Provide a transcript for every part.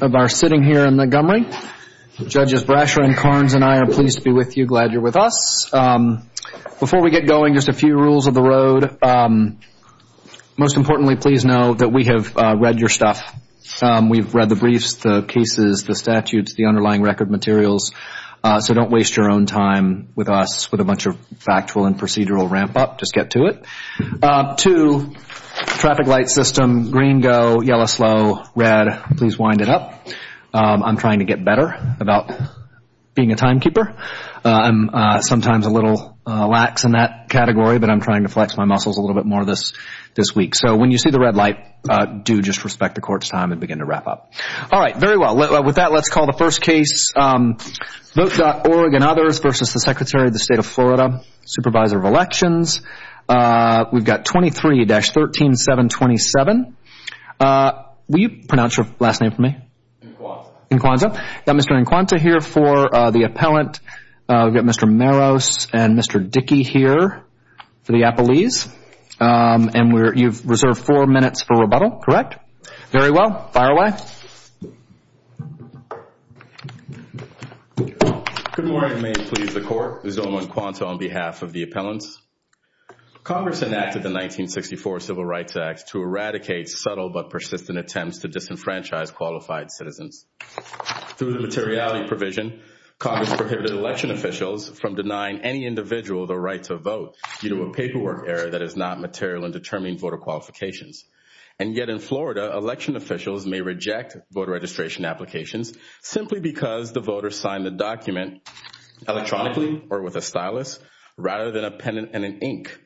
of our sitting here in Montgomery, Judges Brasher and Karnes and I are pleased to be with you, glad you're with us. Before we get going, just a few rules of the road. Most importantly, please know that we have read your stuff. We've read the briefs, the cases, the statutes, the underlying record materials, so don't waste your own time with us with a bunch of factual and procedural ramp up. Just get to it. Two, traffic light system, green go, yellow slow, red, please wind it up. I'm trying to get better about being a timekeeper. I'm sometimes a little lax in that category, but I'm trying to flex my muscles a little bit more this week. So when you see the red light, do just respect the court's time and begin to wrap up. All right, very well. With that, let's call the first case. Vote.org and others versus the Secretary of the State of Florida, Supervisor of Elections. We've got 23-13727. Will you pronounce your last name for me? Inquanto. Got Mr. Inquanto here for the appellant. We've got Mr. Maros and Mr. Dickey here for the appellees. And you've reserved four minutes for rebuttal, correct? Very well. Fire away. Good morning. May it please the Court. This is Owen Inquanto on behalf of the appellants. Congress enacted the 1964 Civil Rights Act to eradicate subtle but persistent attempts to disenfranchise qualified citizens. Through the materiality provision, Congress prohibited election officials from denying any individual the right to vote due to a paperwork error that is not material in determining voter qualifications. And yet in Florida, election officials may reject voter registration applications simply because the voter signed the document electronically or with a stylus rather than a pen and an ink,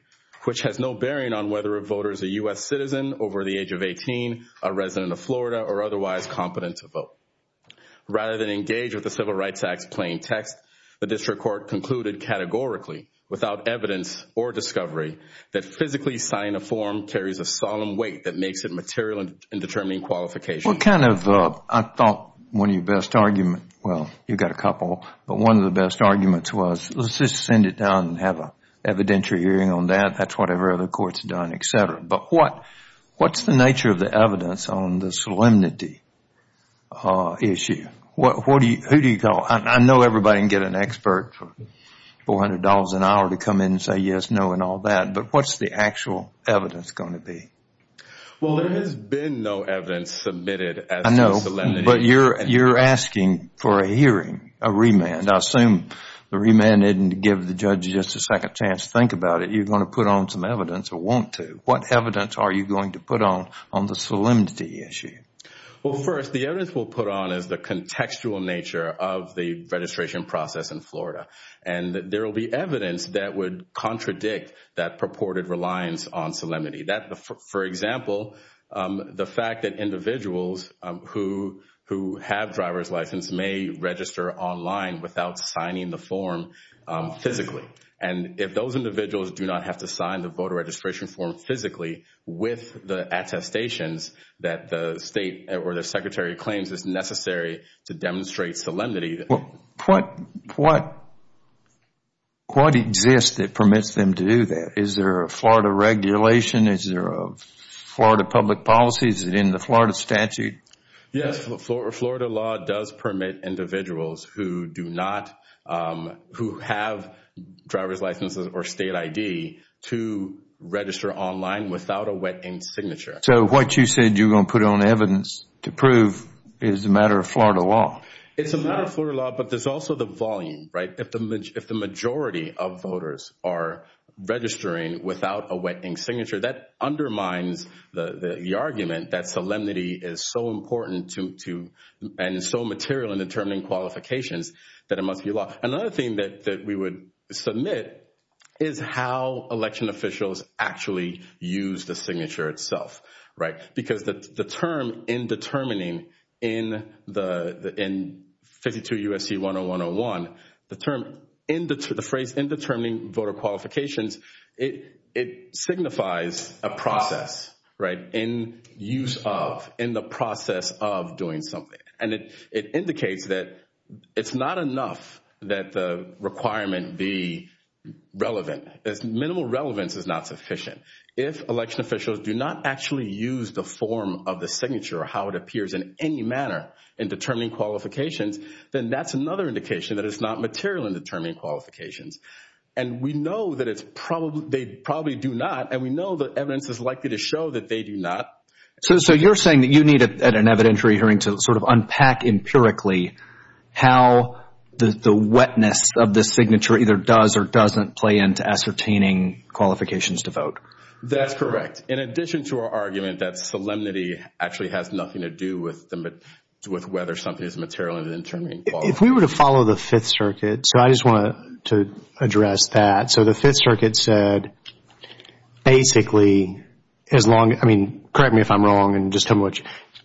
which has no bearing on whether a voter is a U.S. citizen over the age of 18, a resident of Florida, or otherwise competent to vote. Rather than engage with the Civil Rights Act's plain text, the district court concluded categorically, without evidence or discovery, that physically signing a form carries a solemn weight that makes it material in determining qualifications. What kind of, I thought, one of your best arguments, well, you've got a couple, but one of the best arguments was, let's just send it down and have an evidentiary hearing on that. That's what every other court has done, et cetera. But what's the nature of the evidence on the solemnity issue? Who do you call? I know everybody can get an expert for $400 an hour to come in and say yes, no, and all that. But what's the actual evidence going to be? Well, there has been no evidence submitted as to solemnity. But you're asking for a hearing, a remand. I assume the remand isn't to give the judge just a second chance to think about it. You're going to put on some evidence or want to. What evidence are you going to put on on the solemnity issue? Well, first, the evidence we'll put on is the contextual nature of the registration process in Florida. And there will be evidence that would contradict that purported reliance on solemnity. For example, the fact that individuals who have driver's license may register online without signing the form physically. And if those individuals do not have to sign the registration form physically with the attestations that the state or the secretary claims is necessary to demonstrate solemnity. What exists that permits them to do that? Is there a Florida regulation? Is there a Florida public policy? Is it in the Florida statute? Yes. Florida law does permit individuals who do not, who have driver's license or state ID, to register online without a wet ink signature. So what you said you're going to put on evidence to prove is a matter of Florida law. It's a matter of Florida law, but there's also the volume, right? If the majority of voters are registering without a wet ink signature, that undermines the argument that solemnity is so important and so material in determining qualifications that it must be law. Another thing that we would submit is how election officials actually use the signature itself, right? Because the term in determining in 52 U.S.C. 10101, the phrase in determining voter qualifications, it signifies a process, right? In use of, in the process of doing something. And it indicates that it's not enough that the requirement be relevant. Minimal relevance is not sufficient. If election officials do not actually use the form of the signature or how it appears in any manner in determining qualifications, then that's another indication that it's not material in determining qualifications. And we know that it's probably, they probably do not, and we know that evidence is likely to show that they do not. So you're saying that you need at an evidentiary hearing to sort of unpack empirically how the wetness of the signature either does or doesn't play into ascertaining qualifications to vote. That's correct. In addition to our argument that solemnity actually has nothing to do with whether something is material in determining qualifications. If we were to follow the Fifth Circuit, so I just wanted to address that. So the Fifth Circuit, correct me if I'm wrong in just how much,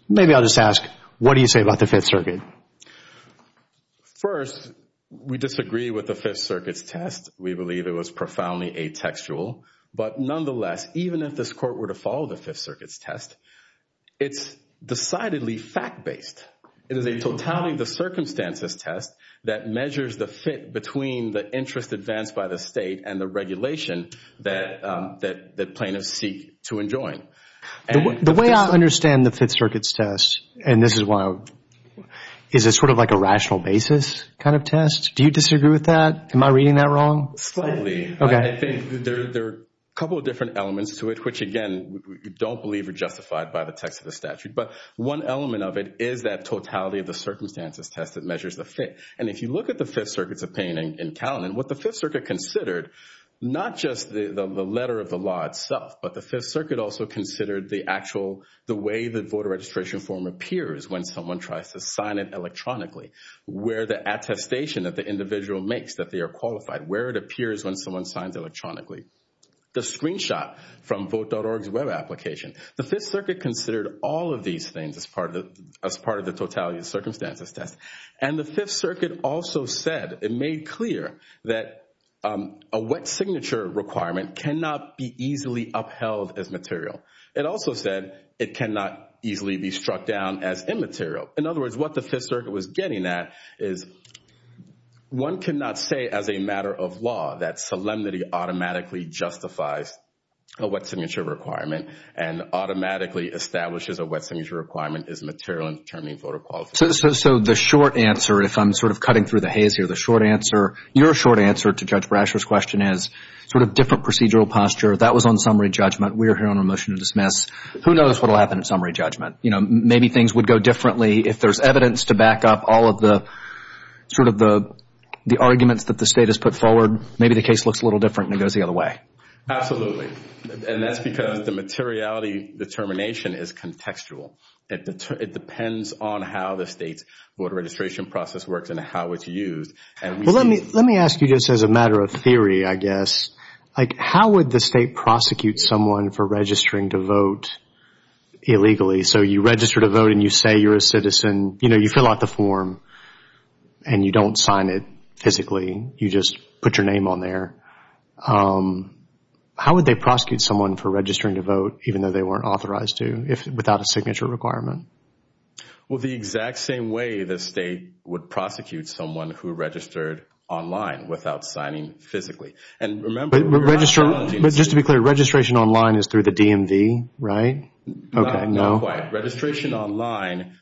maybe I'll just ask, what do you say about the Fifth Circuit? First, we disagree with the Fifth Circuit's test. We believe it was profoundly atextual. But nonetheless, even if this court were to follow the Fifth Circuit's test, it's decidedly fact-based. It is a totality of the circumstances test that measures the fit between the interest advanced by the state and the regulation that plaintiffs seek to enjoin. The way I understand the Fifth Circuit's test, and this is why I would, is it sort of like a rational basis kind of test? Do you disagree with that? Am I reading that wrong? Slightly. I think there are a couple of different elements to it, which again, we don't believe are justified by the text of the statute. But one element of it is that totality of the circumstances test that measures the fit. And if you look at the Fifth Circuit's opinion in Caledon, what the Fifth Circuit considered, not just the letter of the law itself, but the Fifth Circuit also considered the actual, the way the voter registration form appears when someone tries to sign it electronically, where the attestation that the individual makes that they are qualified, where it appears when someone signs electronically. The screenshot from Vote.org's web application, the Fifth Circuit considered all of these things as part of the totality of circumstances test. And the Fifth Circuit also said, it made clear that a wet signature requirement cannot be easily upheld as material. It also said it cannot easily be struck down as immaterial. In other words, what the Fifth Circuit was getting at is one cannot say as a matter of law that solemnity automatically justifies a wet signature requirement and automatically establishes a wet signature requirement is material in determining voter qualification. So the short answer, if I'm sort of cutting through the haze here, the short answer, your short answer to Judge Brasher's question is sort of different procedural posture. That was on summary judgment. We are here on a motion to dismiss. Who knows what will happen in summary judgment? You know, maybe things would go differently if there's evidence to back up all of the sort of the arguments that the state has put forward. Maybe the case looks a little different and it goes the other way. Absolutely. And that's because the materiality determination is contextual. It depends on how the state's voter registration process works and how it's used. Well, let me ask you just as a matter of theory, I guess, like how would the state prosecute someone for registering to vote illegally? So you register to vote and you say you're a citizen, you know, you fill out the form and you don't sign it physically. You just put your name on there. How would they prosecute someone for registering to vote, even though they weren't authorized to, without a signature requirement? Well, the exact same way the state would prosecute someone who registered online without signing physically. And remember- But just to be clear, registration online is through the DMV, right? Not quite. Registration online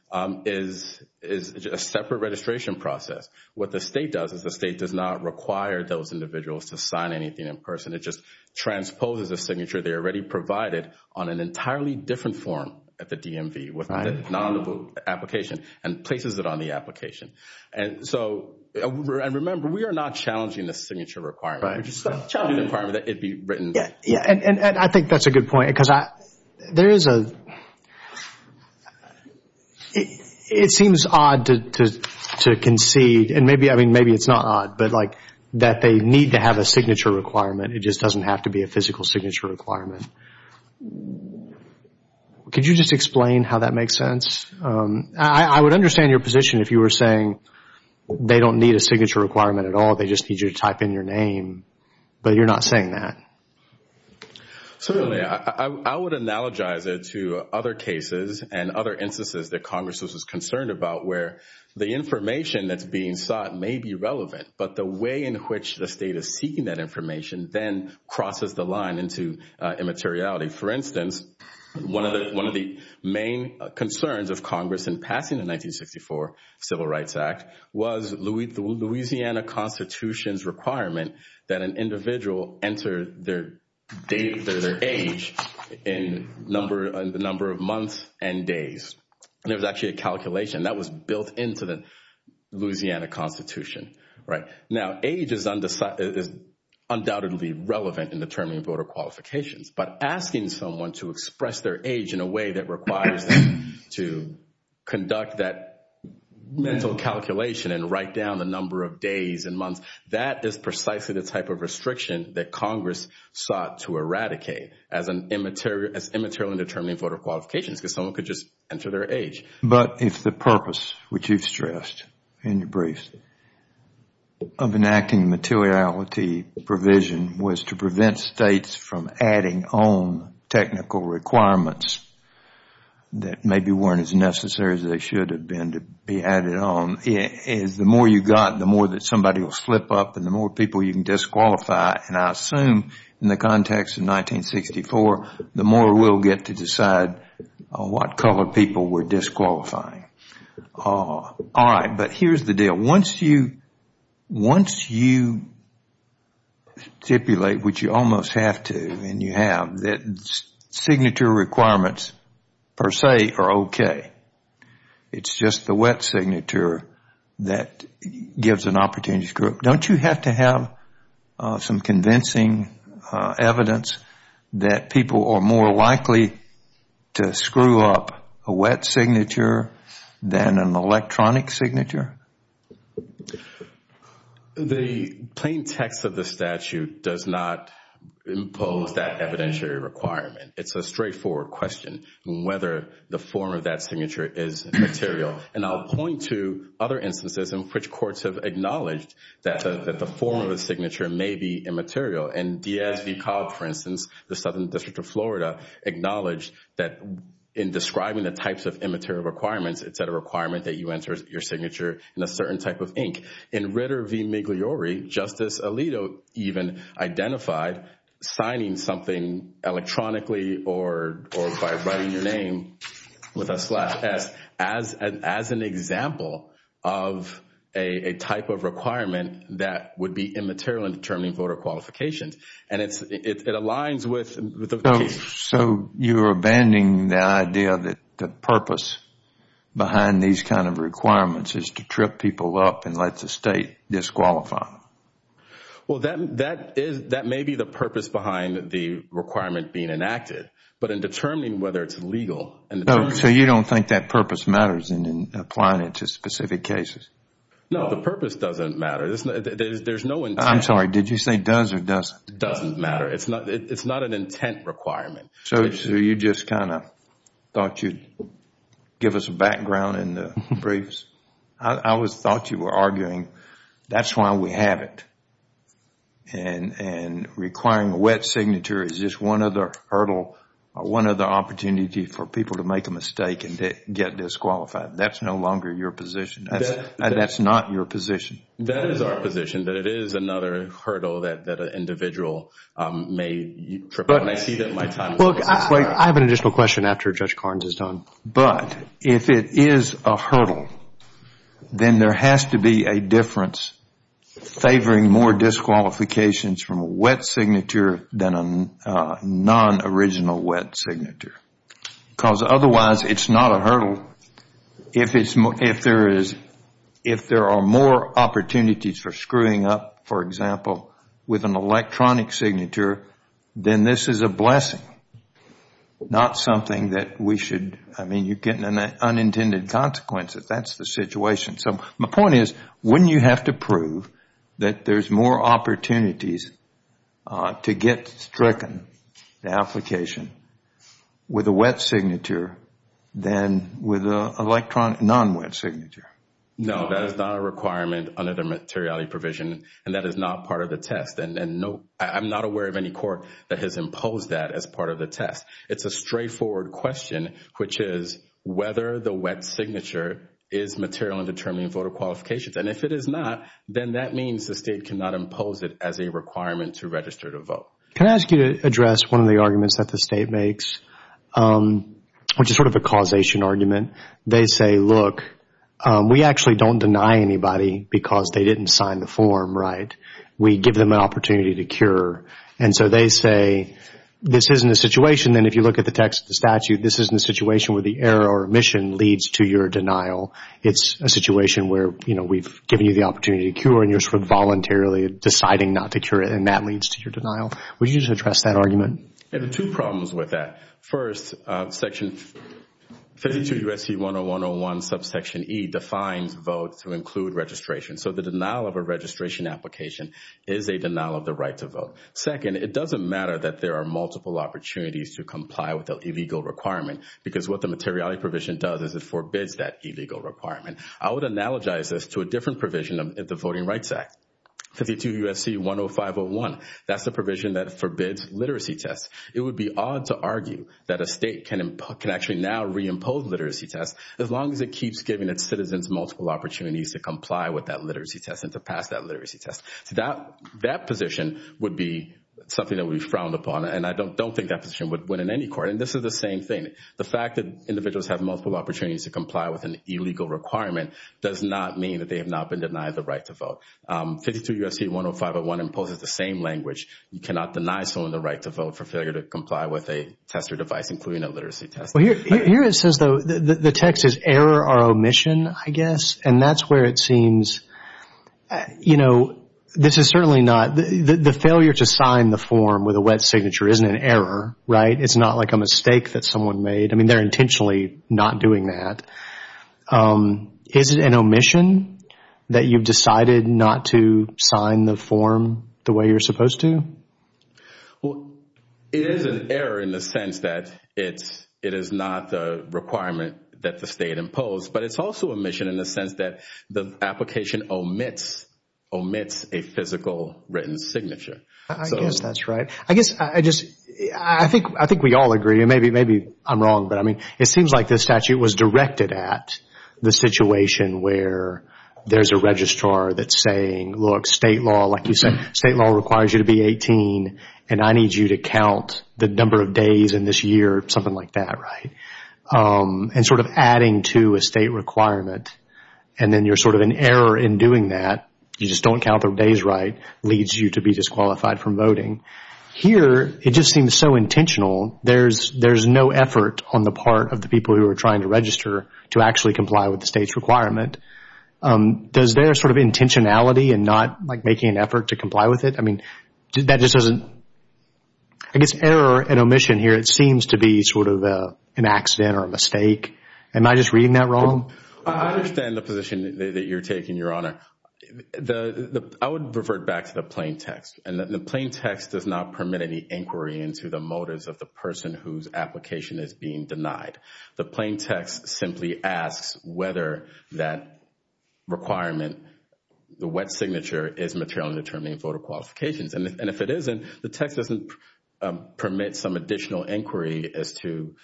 is a separate registration process. What the state does is the state does not require those individuals to sign anything in person. It just transposes a signature they already provided on an entirely different form at the DMV with the non-enable application and places it on the application. And so, and remember, we are not challenging the signature requirement. We're just challenging the requirement that it be written. Yeah. And I think that's a good point because there is a- It seems odd to concede, and maybe, I mean, maybe it's not odd, but like that they need to have a signature requirement. It just doesn't have to be a physical signature requirement. Could you just explain how that makes sense? I would understand your position if you were saying they don't need a signature requirement at all. They just need you to type in your name, but you're not saying that. Certainly. I would analogize it to other cases and other instances that Congress was concerned about where the information that's being sought may be relevant, but the way in which the state is seeking that information then crosses the line into immateriality. For instance, one of the main concerns of Congress in passing the 1964 Civil Rights Act was the Louisiana Constitution's requirement that an individual enter their date or their age in the number of months and days. And there was actually a calculation that was built into the Louisiana Constitution, right? Now, age is undoubtedly relevant in determining voter qualifications, but asking someone to express their age in a way that requires them to conduct that mental calculation and write down the number of days and months, that is precisely the type of restriction that Congress sought to eradicate as immaterial in determining voter qualifications, because someone could just enter their age. But if the purpose, which you've stressed in your brief, of enacting materiality provision was to prevent states from adding on technical requirements that maybe weren't as necessary as they should have been to be added on, is the more you've got, the more that somebody will slip up, and the more people you can disqualify. And I assume in the context of 1964, the more we'll get to decide what color people we're disqualifying. All right, but here's the deal. Once you stipulate, which you almost have to and you have, that signature requirements per se are okay. It's just the wet signature that gives an opportunity to screw up. Don't you have to have some convincing evidence that people are more likely to screw up a wet signature than an electronic signature? The plain text of the statute does not impose that evidentiary requirement. It's a straightforward question on whether the form of that signature is material. And I'll point to other instances in which courts have acknowledged that the form of the signature may be immaterial. And Diaz v. Cobb, for instance, the Southern District of Florida, acknowledged that in describing the types of immaterial requirements, it's a requirement that you enter your signature in a certain type of ink. In Ritter v. Migliore, Justice Alito even identified signing something electronically or by writing your name with a slash S as an example of a type of requirement that would be immaterial in determining voter qualifications. And it aligns with the case. So you're abandoning the idea that the purpose behind these kind of requirements is to trip people up and let the State disqualify them? Well, that may be the purpose behind the requirement being enacted. But in determining whether it's legal and determining... So you don't think that purpose matters in applying it to specific cases? No, the purpose doesn't matter. There's no intent. I'm sorry. Did you say does or doesn't? Doesn't matter. It's not an intent requirement. So you just kind of thought you'd give us a background in the briefs? I always thought you were arguing that's why we have it. And requiring a wet signature is just one other hurdle, one other opportunity for people to make a mistake and get disqualified. That's no longer your position. That's not your position. That is our position, that it is another hurdle that an individual may trip up. But I have an additional question after Judge Carnes is done. But if it is a hurdle, then there has to be a difference favoring more disqualifications from a wet signature than a non-original wet signature. Because otherwise, it's not a hurdle If there are more opportunities for screwing up, for example, with an electronic signature, then this is a blessing, not something that we should... I mean, you're getting unintended consequences. That's the situation. So my point is, wouldn't you have to prove that there's more opportunities to get stricken in an application with a wet signature than with an electronic non-wet signature? No, that is not a requirement under the materiality provision, and that is not part of the test. And I'm not aware of any court that has imposed that as part of the test. It's a straightforward question, which is whether the wet signature is material in determining voter qualifications. And if it is not, then that means the State cannot impose it as a requirement to register to vote. Can I ask you to address one of the arguments that the State makes, which is sort of a causation argument? They say, look, we actually don't deny anybody because they didn't sign the form, right? We give them an opportunity to cure. And so they say, this isn't a situation, and if you look at the text of the statute, this isn't a situation where the error or omission leads to your denial. It's a situation where, you know, we've given you the opportunity to cure, and you're sort of voluntarily deciding not to cure and that leads to your denial. Would you address that argument? I have two problems with that. First, section 52 U.S.C. 10101 subsection E defines vote to include registration. So the denial of a registration application is a denial of the right to vote. Second, it doesn't matter that there are multiple opportunities to comply with the illegal requirement because what the materiality provision does is it forbids that illegal requirement. I would analogize this to a different provision of the Voting Rights Act. 52 U.S.C. 10501, that's the provision that forbids literacy tests. It would be odd to argue that a state can actually now reimpose literacy tests as long as it keeps giving its citizens multiple opportunities to comply with that literacy test and to pass that literacy test. So that position would be something that we frowned upon, and I don't think that position would win in any court. And this is the same thing. The fact that individuals have multiple opportunities to comply with an illegal requirement does not mean that they have not been denied the right to vote. 52 U.S.C. 10501 imposes the same language. You cannot deny someone the right to vote for failure to comply with a test or device, including a literacy test. Well, here it says, though, the text is error or omission, I guess, and that's where it seems, you know, this is certainly not, the failure to sign the form with a wet signature isn't an error, right? It's not like a mistake that someone made. I mean, they're intentionally not doing that. Is it an omission that you've decided not to sign the form the way you're supposed to? Well, it is an error in the sense that it is not the requirement that the state imposed, but it's also omission in the sense that the application omits a physical written signature. I guess that's right. I guess I just, I think we all agree, and maybe I'm wrong, but I mean, it seems like this statute was directed at the situation where there's a registrar that's saying, look, state law, like you said, state law requires you to be 18, and I need you to count the number of days in this year, something like that, right? And sort of adding to a state requirement, and then you're sort of an error in doing that, you just don't count the days right, leads you to be disqualified from voting. Here, it just seems so intentional. There's no effort on the part of the people who are trying to register to actually comply with the state's requirement. Does their sort of intentionality and not like making an effort to comply with it, I mean, that just doesn't, I guess, error and omission here, it seems to be sort of an accident or a mistake. Am I just reading that wrong? I understand the position that you're taking, Your Honor. I would revert back to the plain text, and the plain text does not permit any inquiry into the motives of the person whose application is being denied. The plain text simply asks whether that requirement, the wet signature, is materially determining voter qualifications, and if it isn't, the text doesn't permit some additional inquiry as to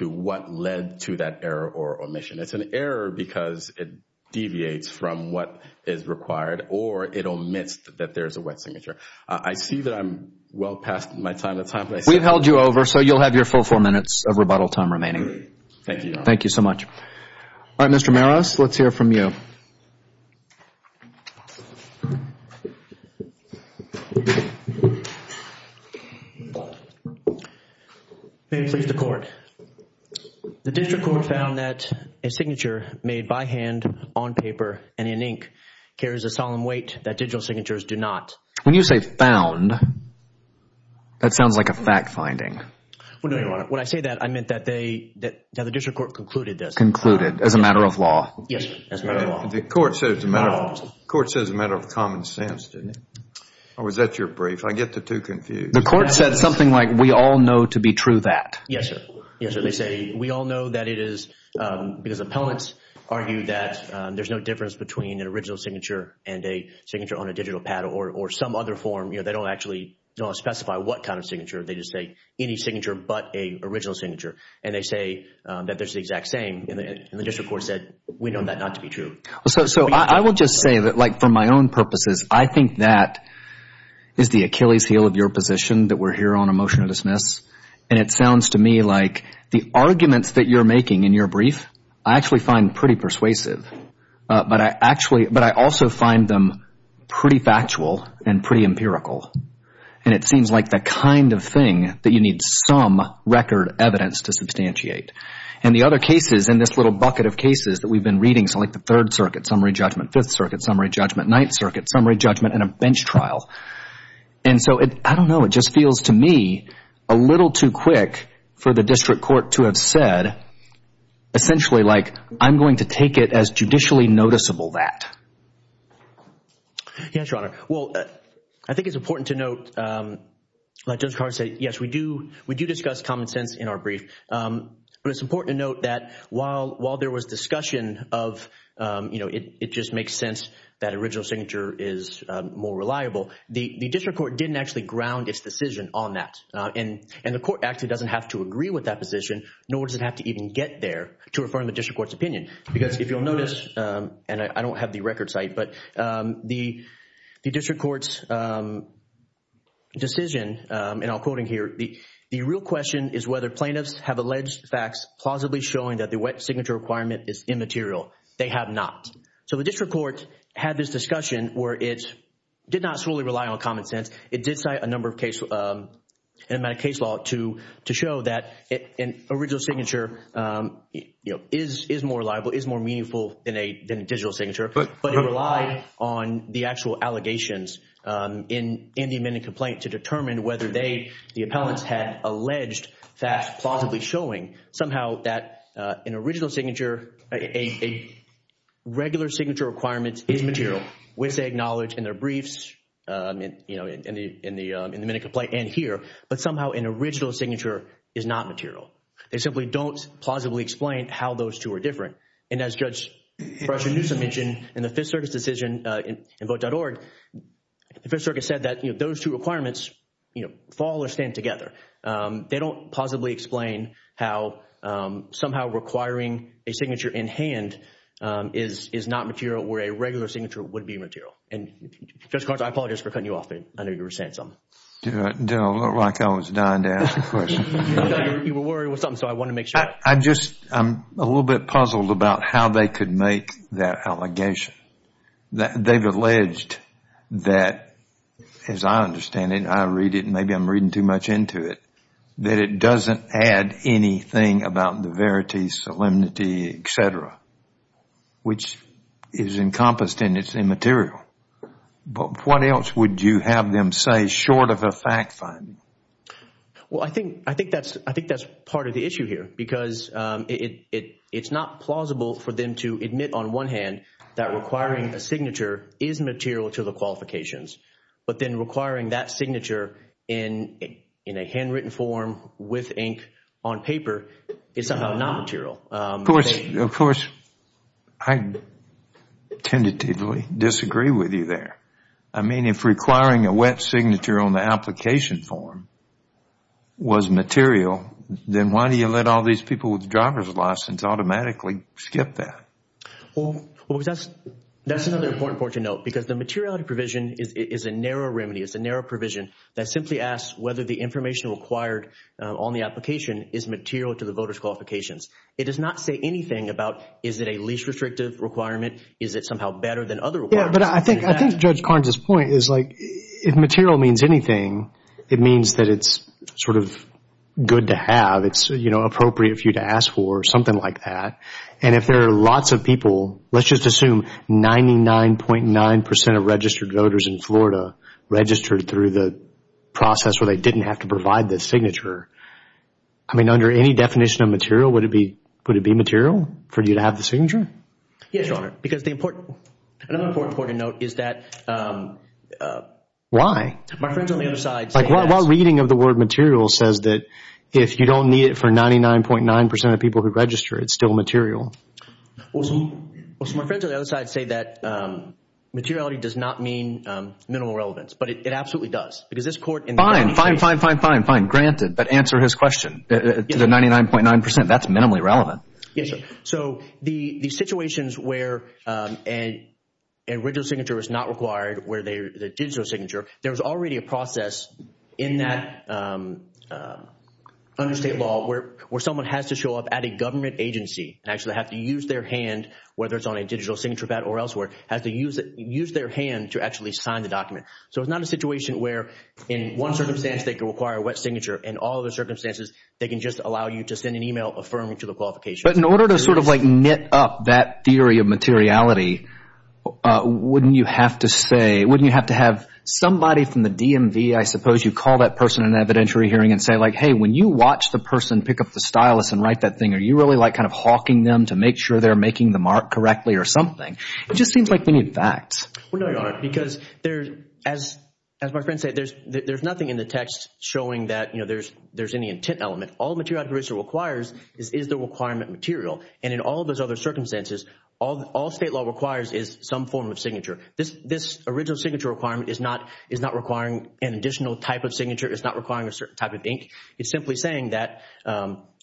what led to that error or omission. It's an error because it deviates from what is required, or it omits that there's a wet signature. I see that I'm well past my time. We've held you over, so you'll have your full four minutes of rebuttal time remaining. Thank you, Your Honor. Thank you so much. All right, Mr. Maros, let's hear from you. May it please the Court. The District Court found that a signature made by hand, on paper, and in ink carries a solemn weight that digital signatures do not. When you say found, that sounds like a fact finding. When I say that, I meant that the District Court concluded this. Concluded, as a matter of law. Yes, as a matter of law. The Court said it's a matter of common sense, didn't it? Or was that your brief? I get the two confused. The Court said something like, we all know to be true that. Yes, sir. Yes, sir. They say we all know that it is because appellants argue that there's no difference between an original signature and a signature on a digital pad or some other form. They don't actually specify what kind of signature. They just say any signature but original signature. And they say that there's the exact same. And the District Court said, we know that not to be true. So I will just say that, like, for my own purposes, I think that is the Achilles heel of your position that we're here on a motion to dismiss. And it sounds to me like the arguments that you're making in your brief, I actually find pretty persuasive. But I actually, but I also find them pretty factual and pretty empirical. And it seems like the kind of thing that you need some record evidence to substantiate. And the other cases in this little bucket of cases that we've been reading, so like the Third Circuit, Summary Judgment, Fifth Circuit, Summary Judgment, Ninth Circuit, Summary Judgment, and a bench trial. And so I don't know. It just feels to me a little too quick for the District Court to have said, essentially, like, I'm going to take it as judicially noticeable that. Yes, Your Honor. Well, I think it's important to note, like Judge Carr said, yes, we do discuss common sense in our brief. But it's important to note that while there was discussion of, you know, it just makes sense that original signature is more reliable, the District Court didn't actually ground its decision on that. And the court actually doesn't have to agree with that position, nor does it have to even get there to refer to the District Court's opinion. Because if you'll notice, and I don't have the record site, but the District Court's decision, and I'll quote in here, the real question is whether plaintiffs have alleged facts plausibly showing that the wet signature requirement is immaterial. They have not. So the District Court had this discussion where it did not solely rely on common sense. It did cite a number of cases, an amount of case law to show that an original signature, you know, is more reliable, is more meaningful than a digital signature. But it relied on the actual allegations in the amended complaint to determine whether they, the appellants, had alleged facts plausibly showing somehow that an original signature, a regular signature requirement is material, which they acknowledge in their briefs, you know, in the amended complaint and here. But somehow an original signature is not material. They simply don't plausibly explain how those two are different. And as Judge Fraser-Newsom mentioned in the Fifth Circuit's decision in Vote.org, the Fifth Circuit said that, you know, those two requirements, you know, fall or stand together. They don't plausibly explain how somehow requiring a signature in hand is not material where a regular signature would be material. And Judge Garza, I apologize for cutting you off. I know you were saying something. Do I look like I was dying to ask a question? You were worried with something, so I want to make sure. I'm just, I'm a little bit puzzled about how they could make that allegation. They've alleged that, as I understand it, I read it and maybe I'm reading too much into it, that it doesn't add anything about the verity, solemnity, et cetera, which is encompassed in its immaterial. But what else would you have them say short of a fact finding? Well, I think that's part of the issue here because it's not plausible for them to admit on one hand that requiring a signature is material to the qualifications. But then requiring that signature in a handwritten form with ink on paper is somehow not material. Of course, I tentatively disagree with you there. I mean, if requiring a wet signature on the application form was material, then why do you let all these people with driver's licenses automatically skip that? Well, that's another important point to note because the materiality provision is a narrow remedy. It's a narrow provision that simply asks whether the information required on the application is material to the voter's qualifications. It does not say anything about is it a least restrictive requirement? Is it somehow better than other requirements? Yeah, but I think Judge Carnes' point is like if material means anything, it means that it's sort of good to have. It's, you know, appropriate for you to ask for or something like that. And if there are lots of people, let's just assume 99.9% of registered voters in Florida registered through the process where they didn't have to provide the signature. I mean, under any definition of material, would it be material for you to have the signature? Yes, Your Honor. Because the important, another important point to note is that... Why? My friends on the other side say that... While reading of the word material says that if you don't need it for 99.9% of people who register, it's still material. Well, some of my friends on the other side say that materiality does not mean minimal relevance, but it absolutely does. Because this court in the United States... Fine, fine, fine, fine, fine, fine. But answer his question to the 99.9%. That's minimally relevant. Yes, Your Honor. So the situations where an original signature is not required, where the digital signature, there's already a process in that under state law where someone has to show up at a government agency and actually have to use their hand, whether it's on a digital signature pad or elsewhere, has to use their hand to actually sign the document. So it's not a situation where in one circumstance, they can require a wet signature. In all other circumstances, they can just allow you to send an email affirming to the qualifications. But in order to sort of like knit up that theory of materiality, wouldn't you have to say, wouldn't you have to have somebody from the DMV, I suppose, you call that person in evidentiary hearing and say like, hey, when you watch the person pick up the stylus and write that thing, are you really like kind of hawking them to make sure they're making the mark correctly or something? It just seems like we need facts. Well, no, Your Honor, because as my friend said, there's nothing in the text showing that there's any intent element. All materiality provision requires is the requirement material. And in all of those other circumstances, all state law requires is some form of signature. This original signature requirement is not requiring an additional type of signature. It's not requiring a certain type of ink. It's simply saying that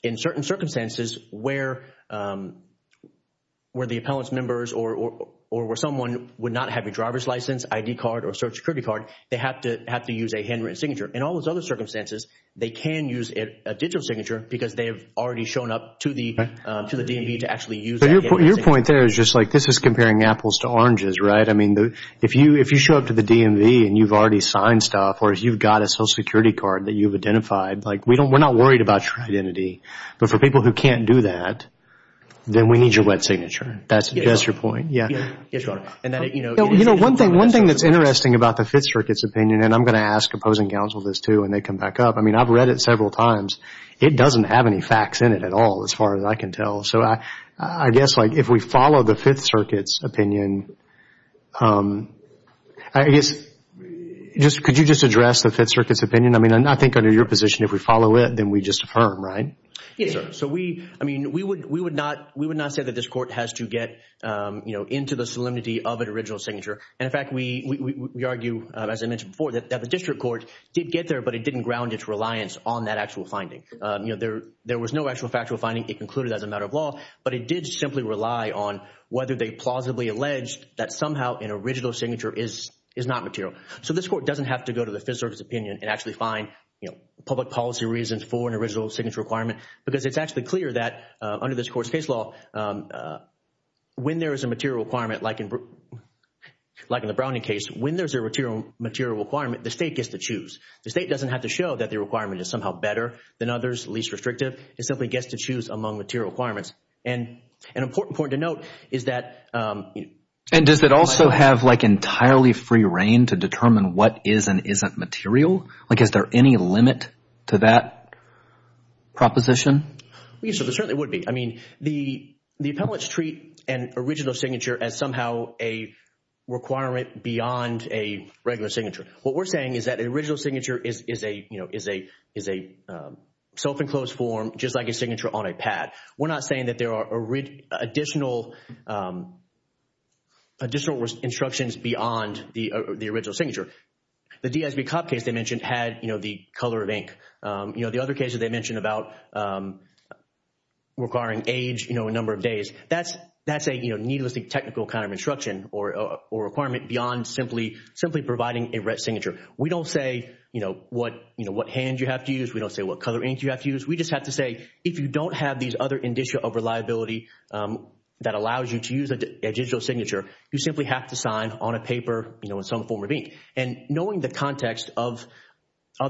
in certain circumstances where the appellant's members or where someone would not have a driver's license, ID card or social security card, they have to use a handwritten signature. In all those other circumstances, they can use a digital signature because they have already shown up to the DMV to actually use that handwritten signature. Your point there is just like this is comparing apples to oranges, right? I mean, if you show up to the DMV and you've already signed stuff or you've got a social security card that you've identified, like we're not worried about your identity. But for people who can't do that, then we need your wet signature. That's your point. Yes, Your Honor. You know, one thing that's interesting about the Fifth Circuit's opinion, and I'm going to ask opposing counsel this too when they come back up. I mean, I've read it several times. It doesn't have any facts in it at all as far as I can tell. So I guess like if we follow the Fifth Circuit's opinion, I guess, could you just address the Fifth Circuit's opinion? I mean, I think under your position, if we follow it, then we just affirm, right? Yes, sir. I mean, we would not say that this court has to get into the solemnity of an original signature. And in fact, we argue, as I mentioned before, that the district court did get there, but it didn't ground its reliance on that actual finding. There was no actual factual finding. It concluded as a matter of law, but it did simply rely on whether they plausibly alleged that somehow an original signature is not material. So this court doesn't have to go to the Fifth Circuit's opinion and actually find public policy reasons for an original signature requirement because it's actually clear that under this court's case law, when there is a material requirement like in the Browning case, when there's a material requirement, the state gets to choose. The state doesn't have to show that the requirement is somehow better than others, least restrictive. It simply gets to choose among material requirements. And an important point to note is that— And does it also have like entirely free reign to determine what is and isn't material? Like is there any limit to that proposition? Yes, there certainly would be. I mean, the appellates treat an original signature as somehow a requirement beyond a regular signature. What we're saying is that an original signature is a self-enclosed form just like a signature on a pad. We're not saying that there are additional instructions beyond the original signature. The DSB Cobb case they mentioned had the color of ink. The other case that they mentioned about requiring age, a number of days, that's a needlessly technical kind of instruction or requirement beyond simply providing a red signature. We don't say what hand you have to use. We don't say what color ink you have to use. We just have to say if you don't have these other indicia of reliability that allows you to use a digital signature, you simply have to sign on a paper in some form of ink. Knowing the context of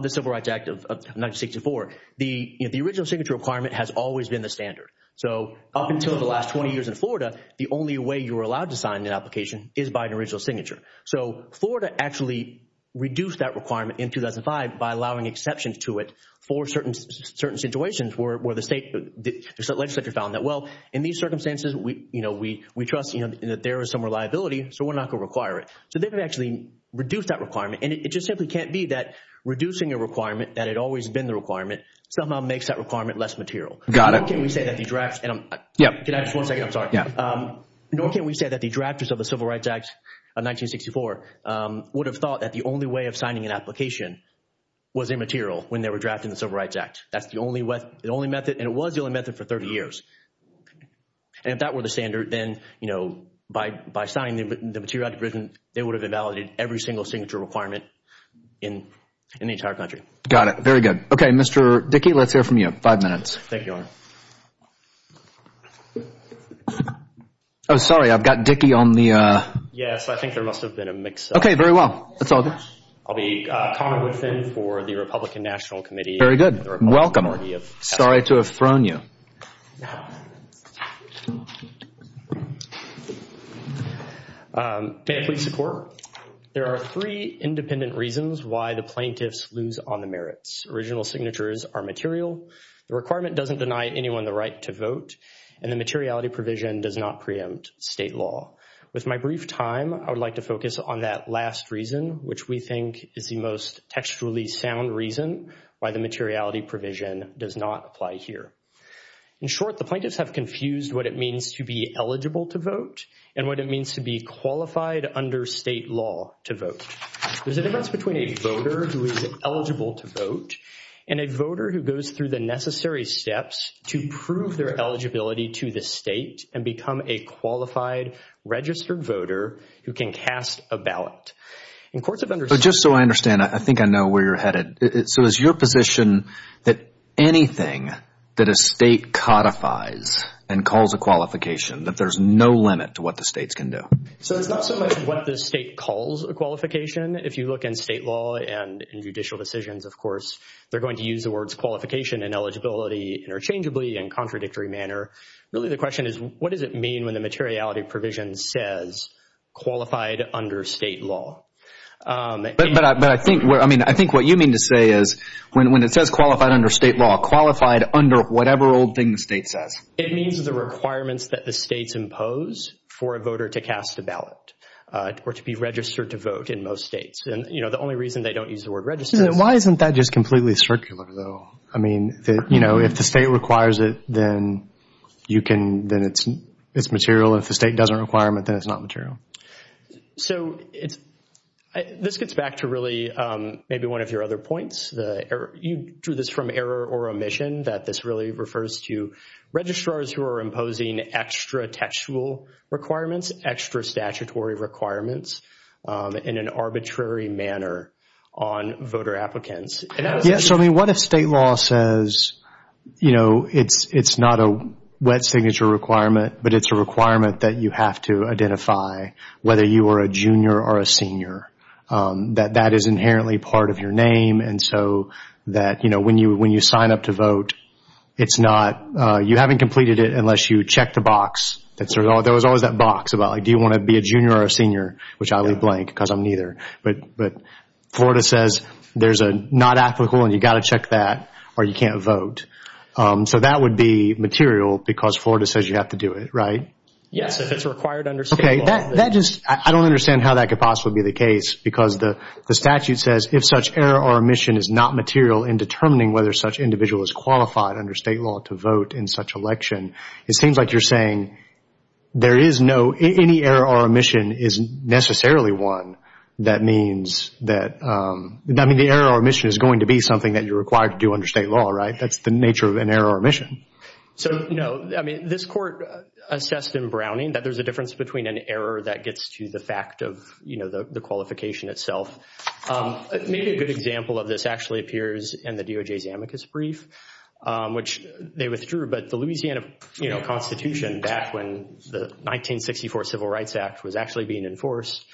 the Civil Rights Act of 1964, the original signature requirement has always been the standard. So up until the last 20 years in Florida, the only way you were allowed to sign an application is by an original signature. So Florida actually reduced that requirement in 2005 by allowing exceptions to it for certain situations where the legislature found that, well, in these circumstances, we trust that there is some reliability, so we're not going to require it. So they've actually reduced that requirement, and it just simply can't be that reducing a requirement that had always been the requirement somehow makes that requirement less material. Got it. Nor can we say that the drafts of the Civil Rights Act of 1964 would have thought that the only way of signing an application was immaterial when they were drafting the Civil Rights Act. That's the only method, and it was the only method for 30 years. And if that were the standard, then, you know, by signing the material, they would have invalidated every single signature requirement in the entire country. Got it. Very good. Okay. Mr. Dickey, let's hear from you. Five minutes. Thank you, Your Honor. Oh, sorry. I've got Dickey on the... Yes, I think there must have been a mix. Okay. Very well. That's all good. I'll be Connor Woodfin for the Republican National Committee. Very good. Welcome. Sorry to have thrown you. Now, may I please support? There are three independent reasons why the plaintiffs lose on the merits. Original signatures are material. The requirement doesn't deny anyone the right to vote, and the materiality provision does not preempt state law. With my brief time, I would like to focus on that last reason, which we think is the most textually sound reason why the materiality provision does not apply here. In short, the plaintiffs have confused what it means to be eligible to vote and what it means to be qualified under state law to vote. There's a difference between a voter who is eligible to vote and a voter who goes through the necessary steps to prove their eligibility to the state and become a qualified registered voter who can cast a ballot. In courts of... Just so I understand, I think I know where you're headed. So is your position that anything that a state codifies and calls a qualification, that there's no limit to what the states can do? So it's not so much what the state calls a qualification. If you look in state law and in judicial decisions, of course, they're going to use the words qualification and eligibility interchangeably and contradictory manner. Really, the question is, what does it mean when the materiality provision says qualified under state law? But I think, I mean, I think what you mean to say is when it says qualified under state law, qualified under whatever old thing the state says. It means the requirements that the states impose for a voter to cast a ballot or to be registered to vote in most states. And, you know, the only reason they don't use the word registered... Why isn't that just completely circular, though? I mean, you know, if the state requires it, then you can, then it's material. If the state doesn't require it, then it's not material. So it's, this gets back to really maybe one of your other points. You drew this from error or omission that this really refers to registrars who are imposing extra textual requirements, extra statutory requirements in an arbitrary manner on voter applicants. Yes. I mean, what if state law says, you know, it's not a wet signature requirement, but it's a requirement that you have to identify whether you are a junior or a senior, that that is inherently part of your name. And so that, you know, when you, when you sign up to vote, it's not, you haven't completed it unless you check the box. There was always that box about, like, do you want to be a junior or a senior, which I leave blank because I'm neither. But Florida says there's a not applicable and you got to check that or you can't vote. So that would be material because Florida says you have to do it, right? Yes, if it's required under state law. Okay. That just, I don't understand how that could possibly be the case because the statute says if such error or omission is not material in determining whether such individual is qualified under state law to vote in such election, it seems like you're saying there is no, any error or omission isn't necessarily one that means that, I mean, the error or omission is going to be something that you're required to do under state law, right? That's the nature of an error or omission. So, you know, I mean, this court assessed in Browning that there's a difference between an error that gets to the fact of, you know, the qualification itself. Maybe a good example of this actually appears in the DOJ's amicus brief, which they withdrew. But the Louisiana, you know, Constitution back when the 1964 Civil Rights Act was actually being enforced,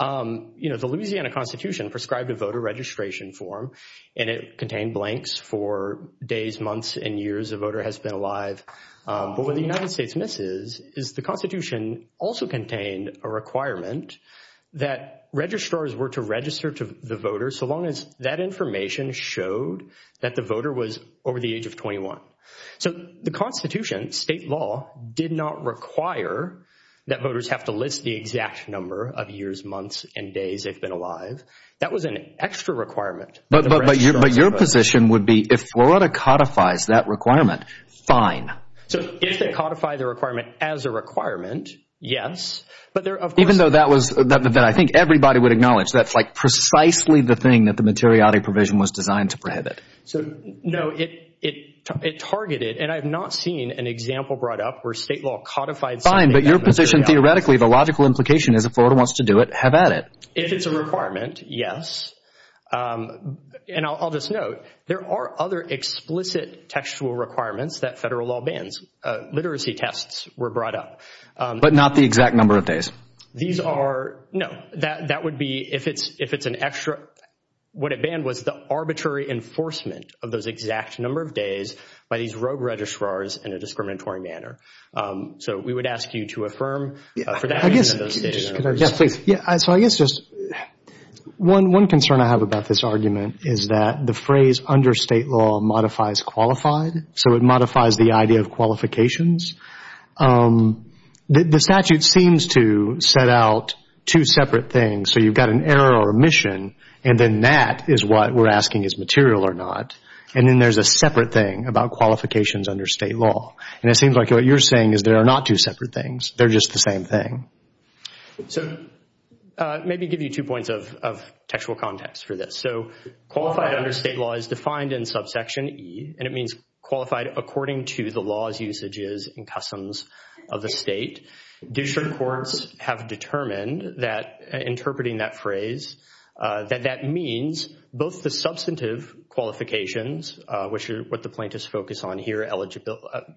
you know, the Louisiana Constitution prescribed a voter registration form and it contained blanks for days, months, and years a voter has been alive. But what the United States misses is the Constitution also contained a requirement that registrars were to register to the voter so long as that information showed that the voter was over the age of 21. So the Constitution, state law, did not require that voters have to list the exact number of years, months, and days they've been alive. That was an extra requirement. But your position would be if Florida codifies that requirement, fine. So if they codify the requirement as a requirement, yes. But there, of course... Even though that was that I think everybody would acknowledge that's like precisely the thing that the materiality provision was designed to prohibit. So, no, it targeted, and I've not seen an example brought up where state law codified... Fine, but your position theoretically, the logical implication is if Florida wants to do it, have at it. If it's a requirement, yes. And I'll just note, there are other explicit textual requirements that federal law bans. Literacy tests were brought up. But not the exact number of days. These are... No, that would be if it's an extra... What it banned was the arbitrary enforcement of those exact number of days by these rogue registrars in a discriminatory manner. So we would ask you to affirm for that. Yeah, please. So I guess just one concern I have about this argument is that the phrase under state law modifies qualified. So it modifies the idea of qualifications. The statute seems to set out two separate things. So you've got an error or omission, and then that is what we're asking is material or not. And then there's a separate thing about qualifications under state law. And it seems like what you're saying is there are not two separate things. They're just the same thing. So maybe give you two points of textual context for this. So qualified under state law is defined in subsection E, and it means qualified according to the laws, usages, and customs of the state. District courts have determined that interpreting that phrase, that that means both the substantive qualifications, which are what the plaintiffs focus on here,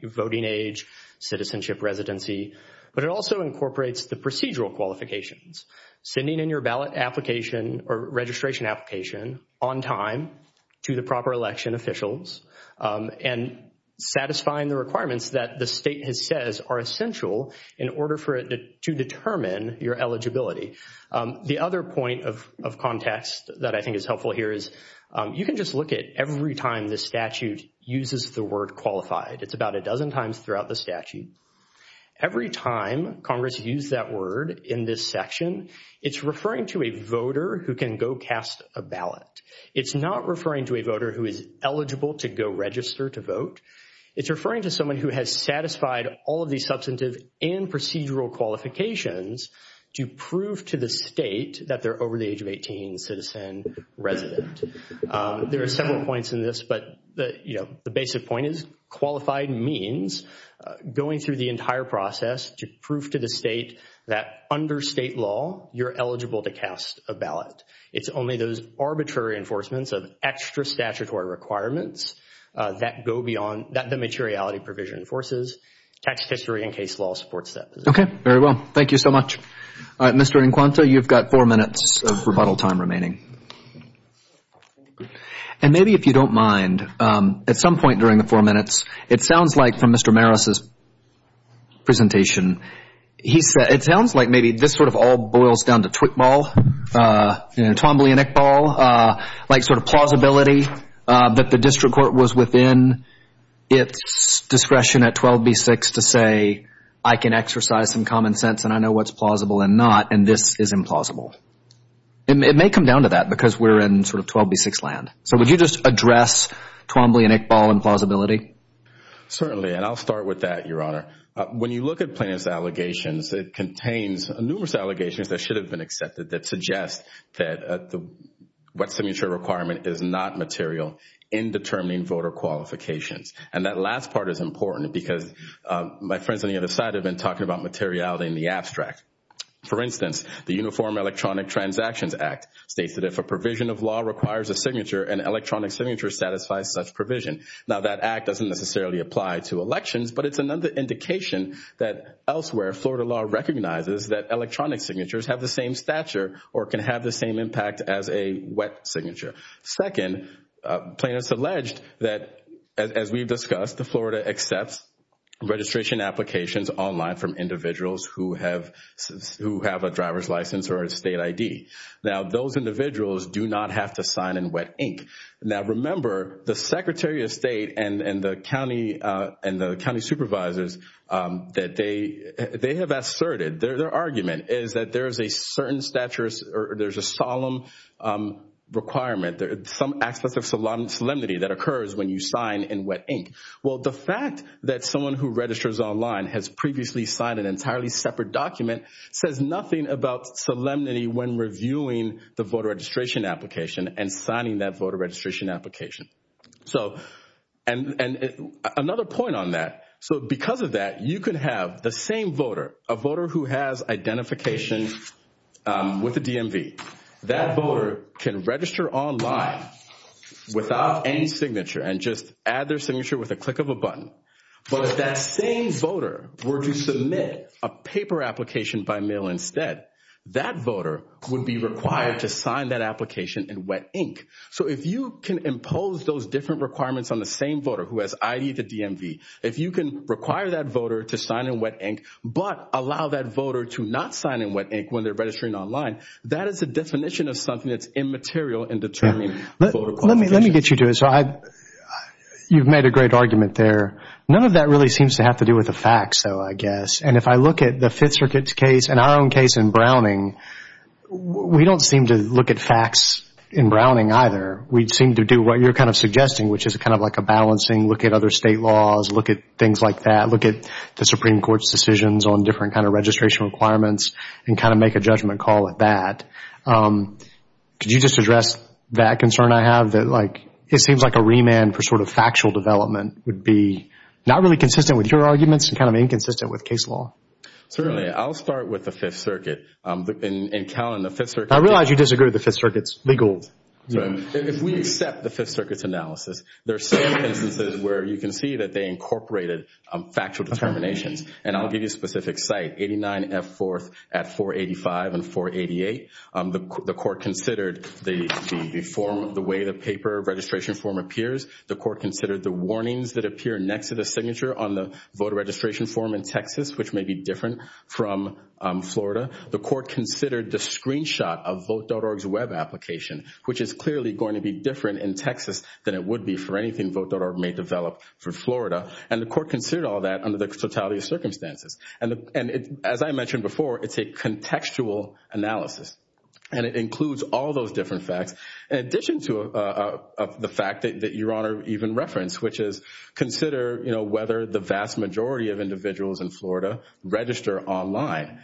voting age, citizenship, residency. But it also incorporates the procedural qualifications. Sending in your ballot application or registration application on time to the proper election officials and satisfying the requirements that the state has says are essential in order for it to determine your eligibility. The other point of context that I think is helpful here is you can just look at every time the statute uses the word qualified. It's about a dozen times throughout the statute. Every time Congress used that word in this section, it's referring to a voter who can go cast a ballot. It's not referring to a voter who is eligible to go register to vote. It's referring to someone who has satisfied all of these substantive and procedural qualifications to prove to the state that they're over the age of 18 citizen resident. There are several points in this, but the, you know, the basic point is qualified means going through the entire process to prove to the state that under state law, you're eligible to cast a ballot. It's only those arbitrary enforcements of extra statutory requirements that go beyond that the materiality provision enforces. Tax history and case law supports that. Okay. Very well. Thank you so much. Mr. Encuanto, you've got four minutes of rebuttal time remaining. And maybe if you don't mind, at some point during the four minutes, it sounds like from Mr. Maris' presentation, he said it sounds like maybe this sort of all boils down to twitball, you know, Twombly and Iqbal, like sort of plausibility that the district court was within its discretion at 12b-6 to say, I can exercise some common sense and I know what's plausible and not, and this is implausible. It may come down to that because we're in sort of 12b-6 land. So, would you just address Twombly and Iqbal and plausibility? Certainly. And I'll start with that, Your Honor. When you look at plaintiff's allegations, it contains numerous allegations that should have been accepted that suggest that the wet signature requirement is not material in determining voter qualifications. And that last part is important because my friends on the other side have been talking about materiality in the abstract. For instance, the Uniform Electronic Transactions Act states that if a provision of law requires a signature, an electronic signature satisfies such provision. Now, that act doesn't necessarily apply to elections, but it's another indication that elsewhere Florida law recognizes that electronic signatures have the same stature or can have the same impact as a wet signature. Second, plaintiff's alleged that, as we've discussed, Florida accepts registration applications online from individuals who have a driver's license or a state ID. Now, those individuals do not have to sign in wet ink. Now, remember, the Secretary of State and the county supervisors, that they have asserted their argument is that there is a certain stature or there's a solemn requirement, some aspects of solemnity that occurs when you sign in wet ink. Well, the fact that someone who registers online has previously signed an entirely separate document says nothing about solemnity when reviewing the voter registration application and signing that voter registration application. So, and another point on that, so because of that, you could have the same voter, a voter who has identification with the DMV, that voter can register online without any signature and just add their signature with a click of a button. But if that same voter were to submit a paper application by mail instead, that voter would be required to sign that application in wet ink. So, if you can impose those different requirements on the same voter who has ID to DMV, if you can require that voter to sign in wet ink, but allow that voter to not sign in wet ink when they're registering online, that is a definition of something that's immaterial in determining voter qualifications. Let me get you to it. So, you've made a great argument there. None of that really seems to have to do with the facts, though, I guess, and if I look at the Fifth Circuit's case and our own case in Browning, we don't seem to look at facts in Browning either. We seem to do what you're kind of suggesting, which is kind of like a balancing, look at other state laws, look at things like that, look at the Supreme Court's decisions on different kind of registration requirements and kind of make a judgment call at that. Could you just address that concern I have that, like, it seems like a remand for sort of factual development would be not really consistent with your arguments and kind of inconsistent with case law? Certainly. I'll start with the Fifth Circuit. And, Callen, the Fifth Circuit— I realize you disagree with the Fifth Circuit's legal— If we accept the Fifth Circuit's analysis, there are several instances where you can see that they incorporated factual determinations, and I'll give you a specific site, 89F 4th at 485 and 488. The court considered the form of the way the paper registration form appears. The court considered the warnings that appear next to the signature on the voter registration form in Texas, which may be different from Florida. The court considered the screenshot of Vote.org's web application, which is clearly going to be different in Texas than it would be for anything Vote.org may develop for Florida. And the court considered all that under the totality of circumstances. And as I mentioned before, it's a contextual analysis, and it includes all those different facts, in addition to the fact that Your Honor even referenced, which is consider, you know, the vast majority of individuals in Florida register online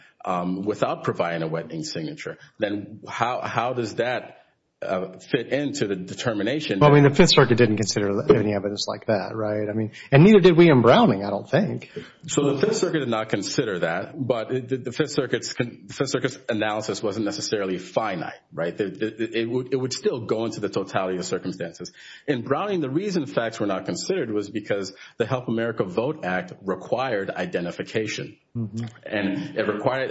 without providing a wetting signature. Then how does that fit into the determination? Well, I mean, the Fifth Circuit didn't consider any evidence like that, right? I mean, and neither did William Browning, I don't think. So the Fifth Circuit did not consider that, but the Fifth Circuit's analysis wasn't necessarily finite, right? It would still go into the totality of circumstances. And Browning, the reason facts were not considered was because the Help America Vote Act required identification. And it required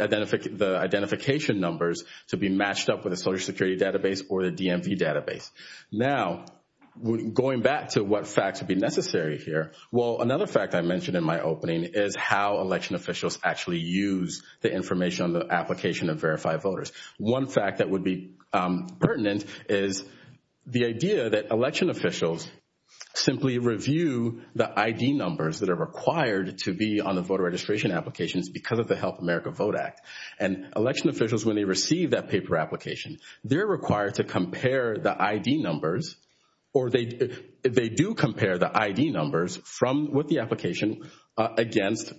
the identification numbers to be matched up with a Social Security database or the DMV database. Now, going back to what facts would be necessary here, well, another fact I mentioned in my opening is how election officials actually use the information on the application to verify voters. One fact that would be pertinent is the idea that election officials simply review the ID numbers that are required to be on the voter registration applications because of the Help America Vote Act. And election officials, when they receive that paper application, they're required to compare the ID numbers, or they do compare the ID numbers from, with the application against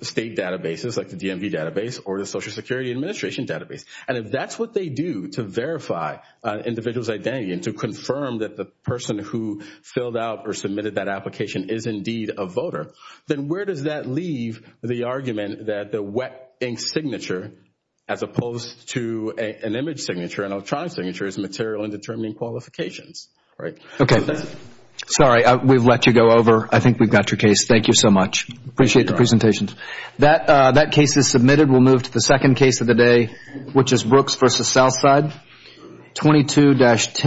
state databases like the DMV database or the Social Security Administration database. And if that's what they do to verify an individual's identity and to confirm that the person who filled out or submitted that application is indeed a voter, then where does that leave the argument that the wet ink signature, as opposed to an image signature, an electronic signature, is material in determining qualifications, right? Okay. Sorry, we've let you go over. I think we've got your case. Thank you so much. Appreciate the presentation. That case is submitted. We'll move to the second case of the day. Which is Brooks v. Southside 22-10.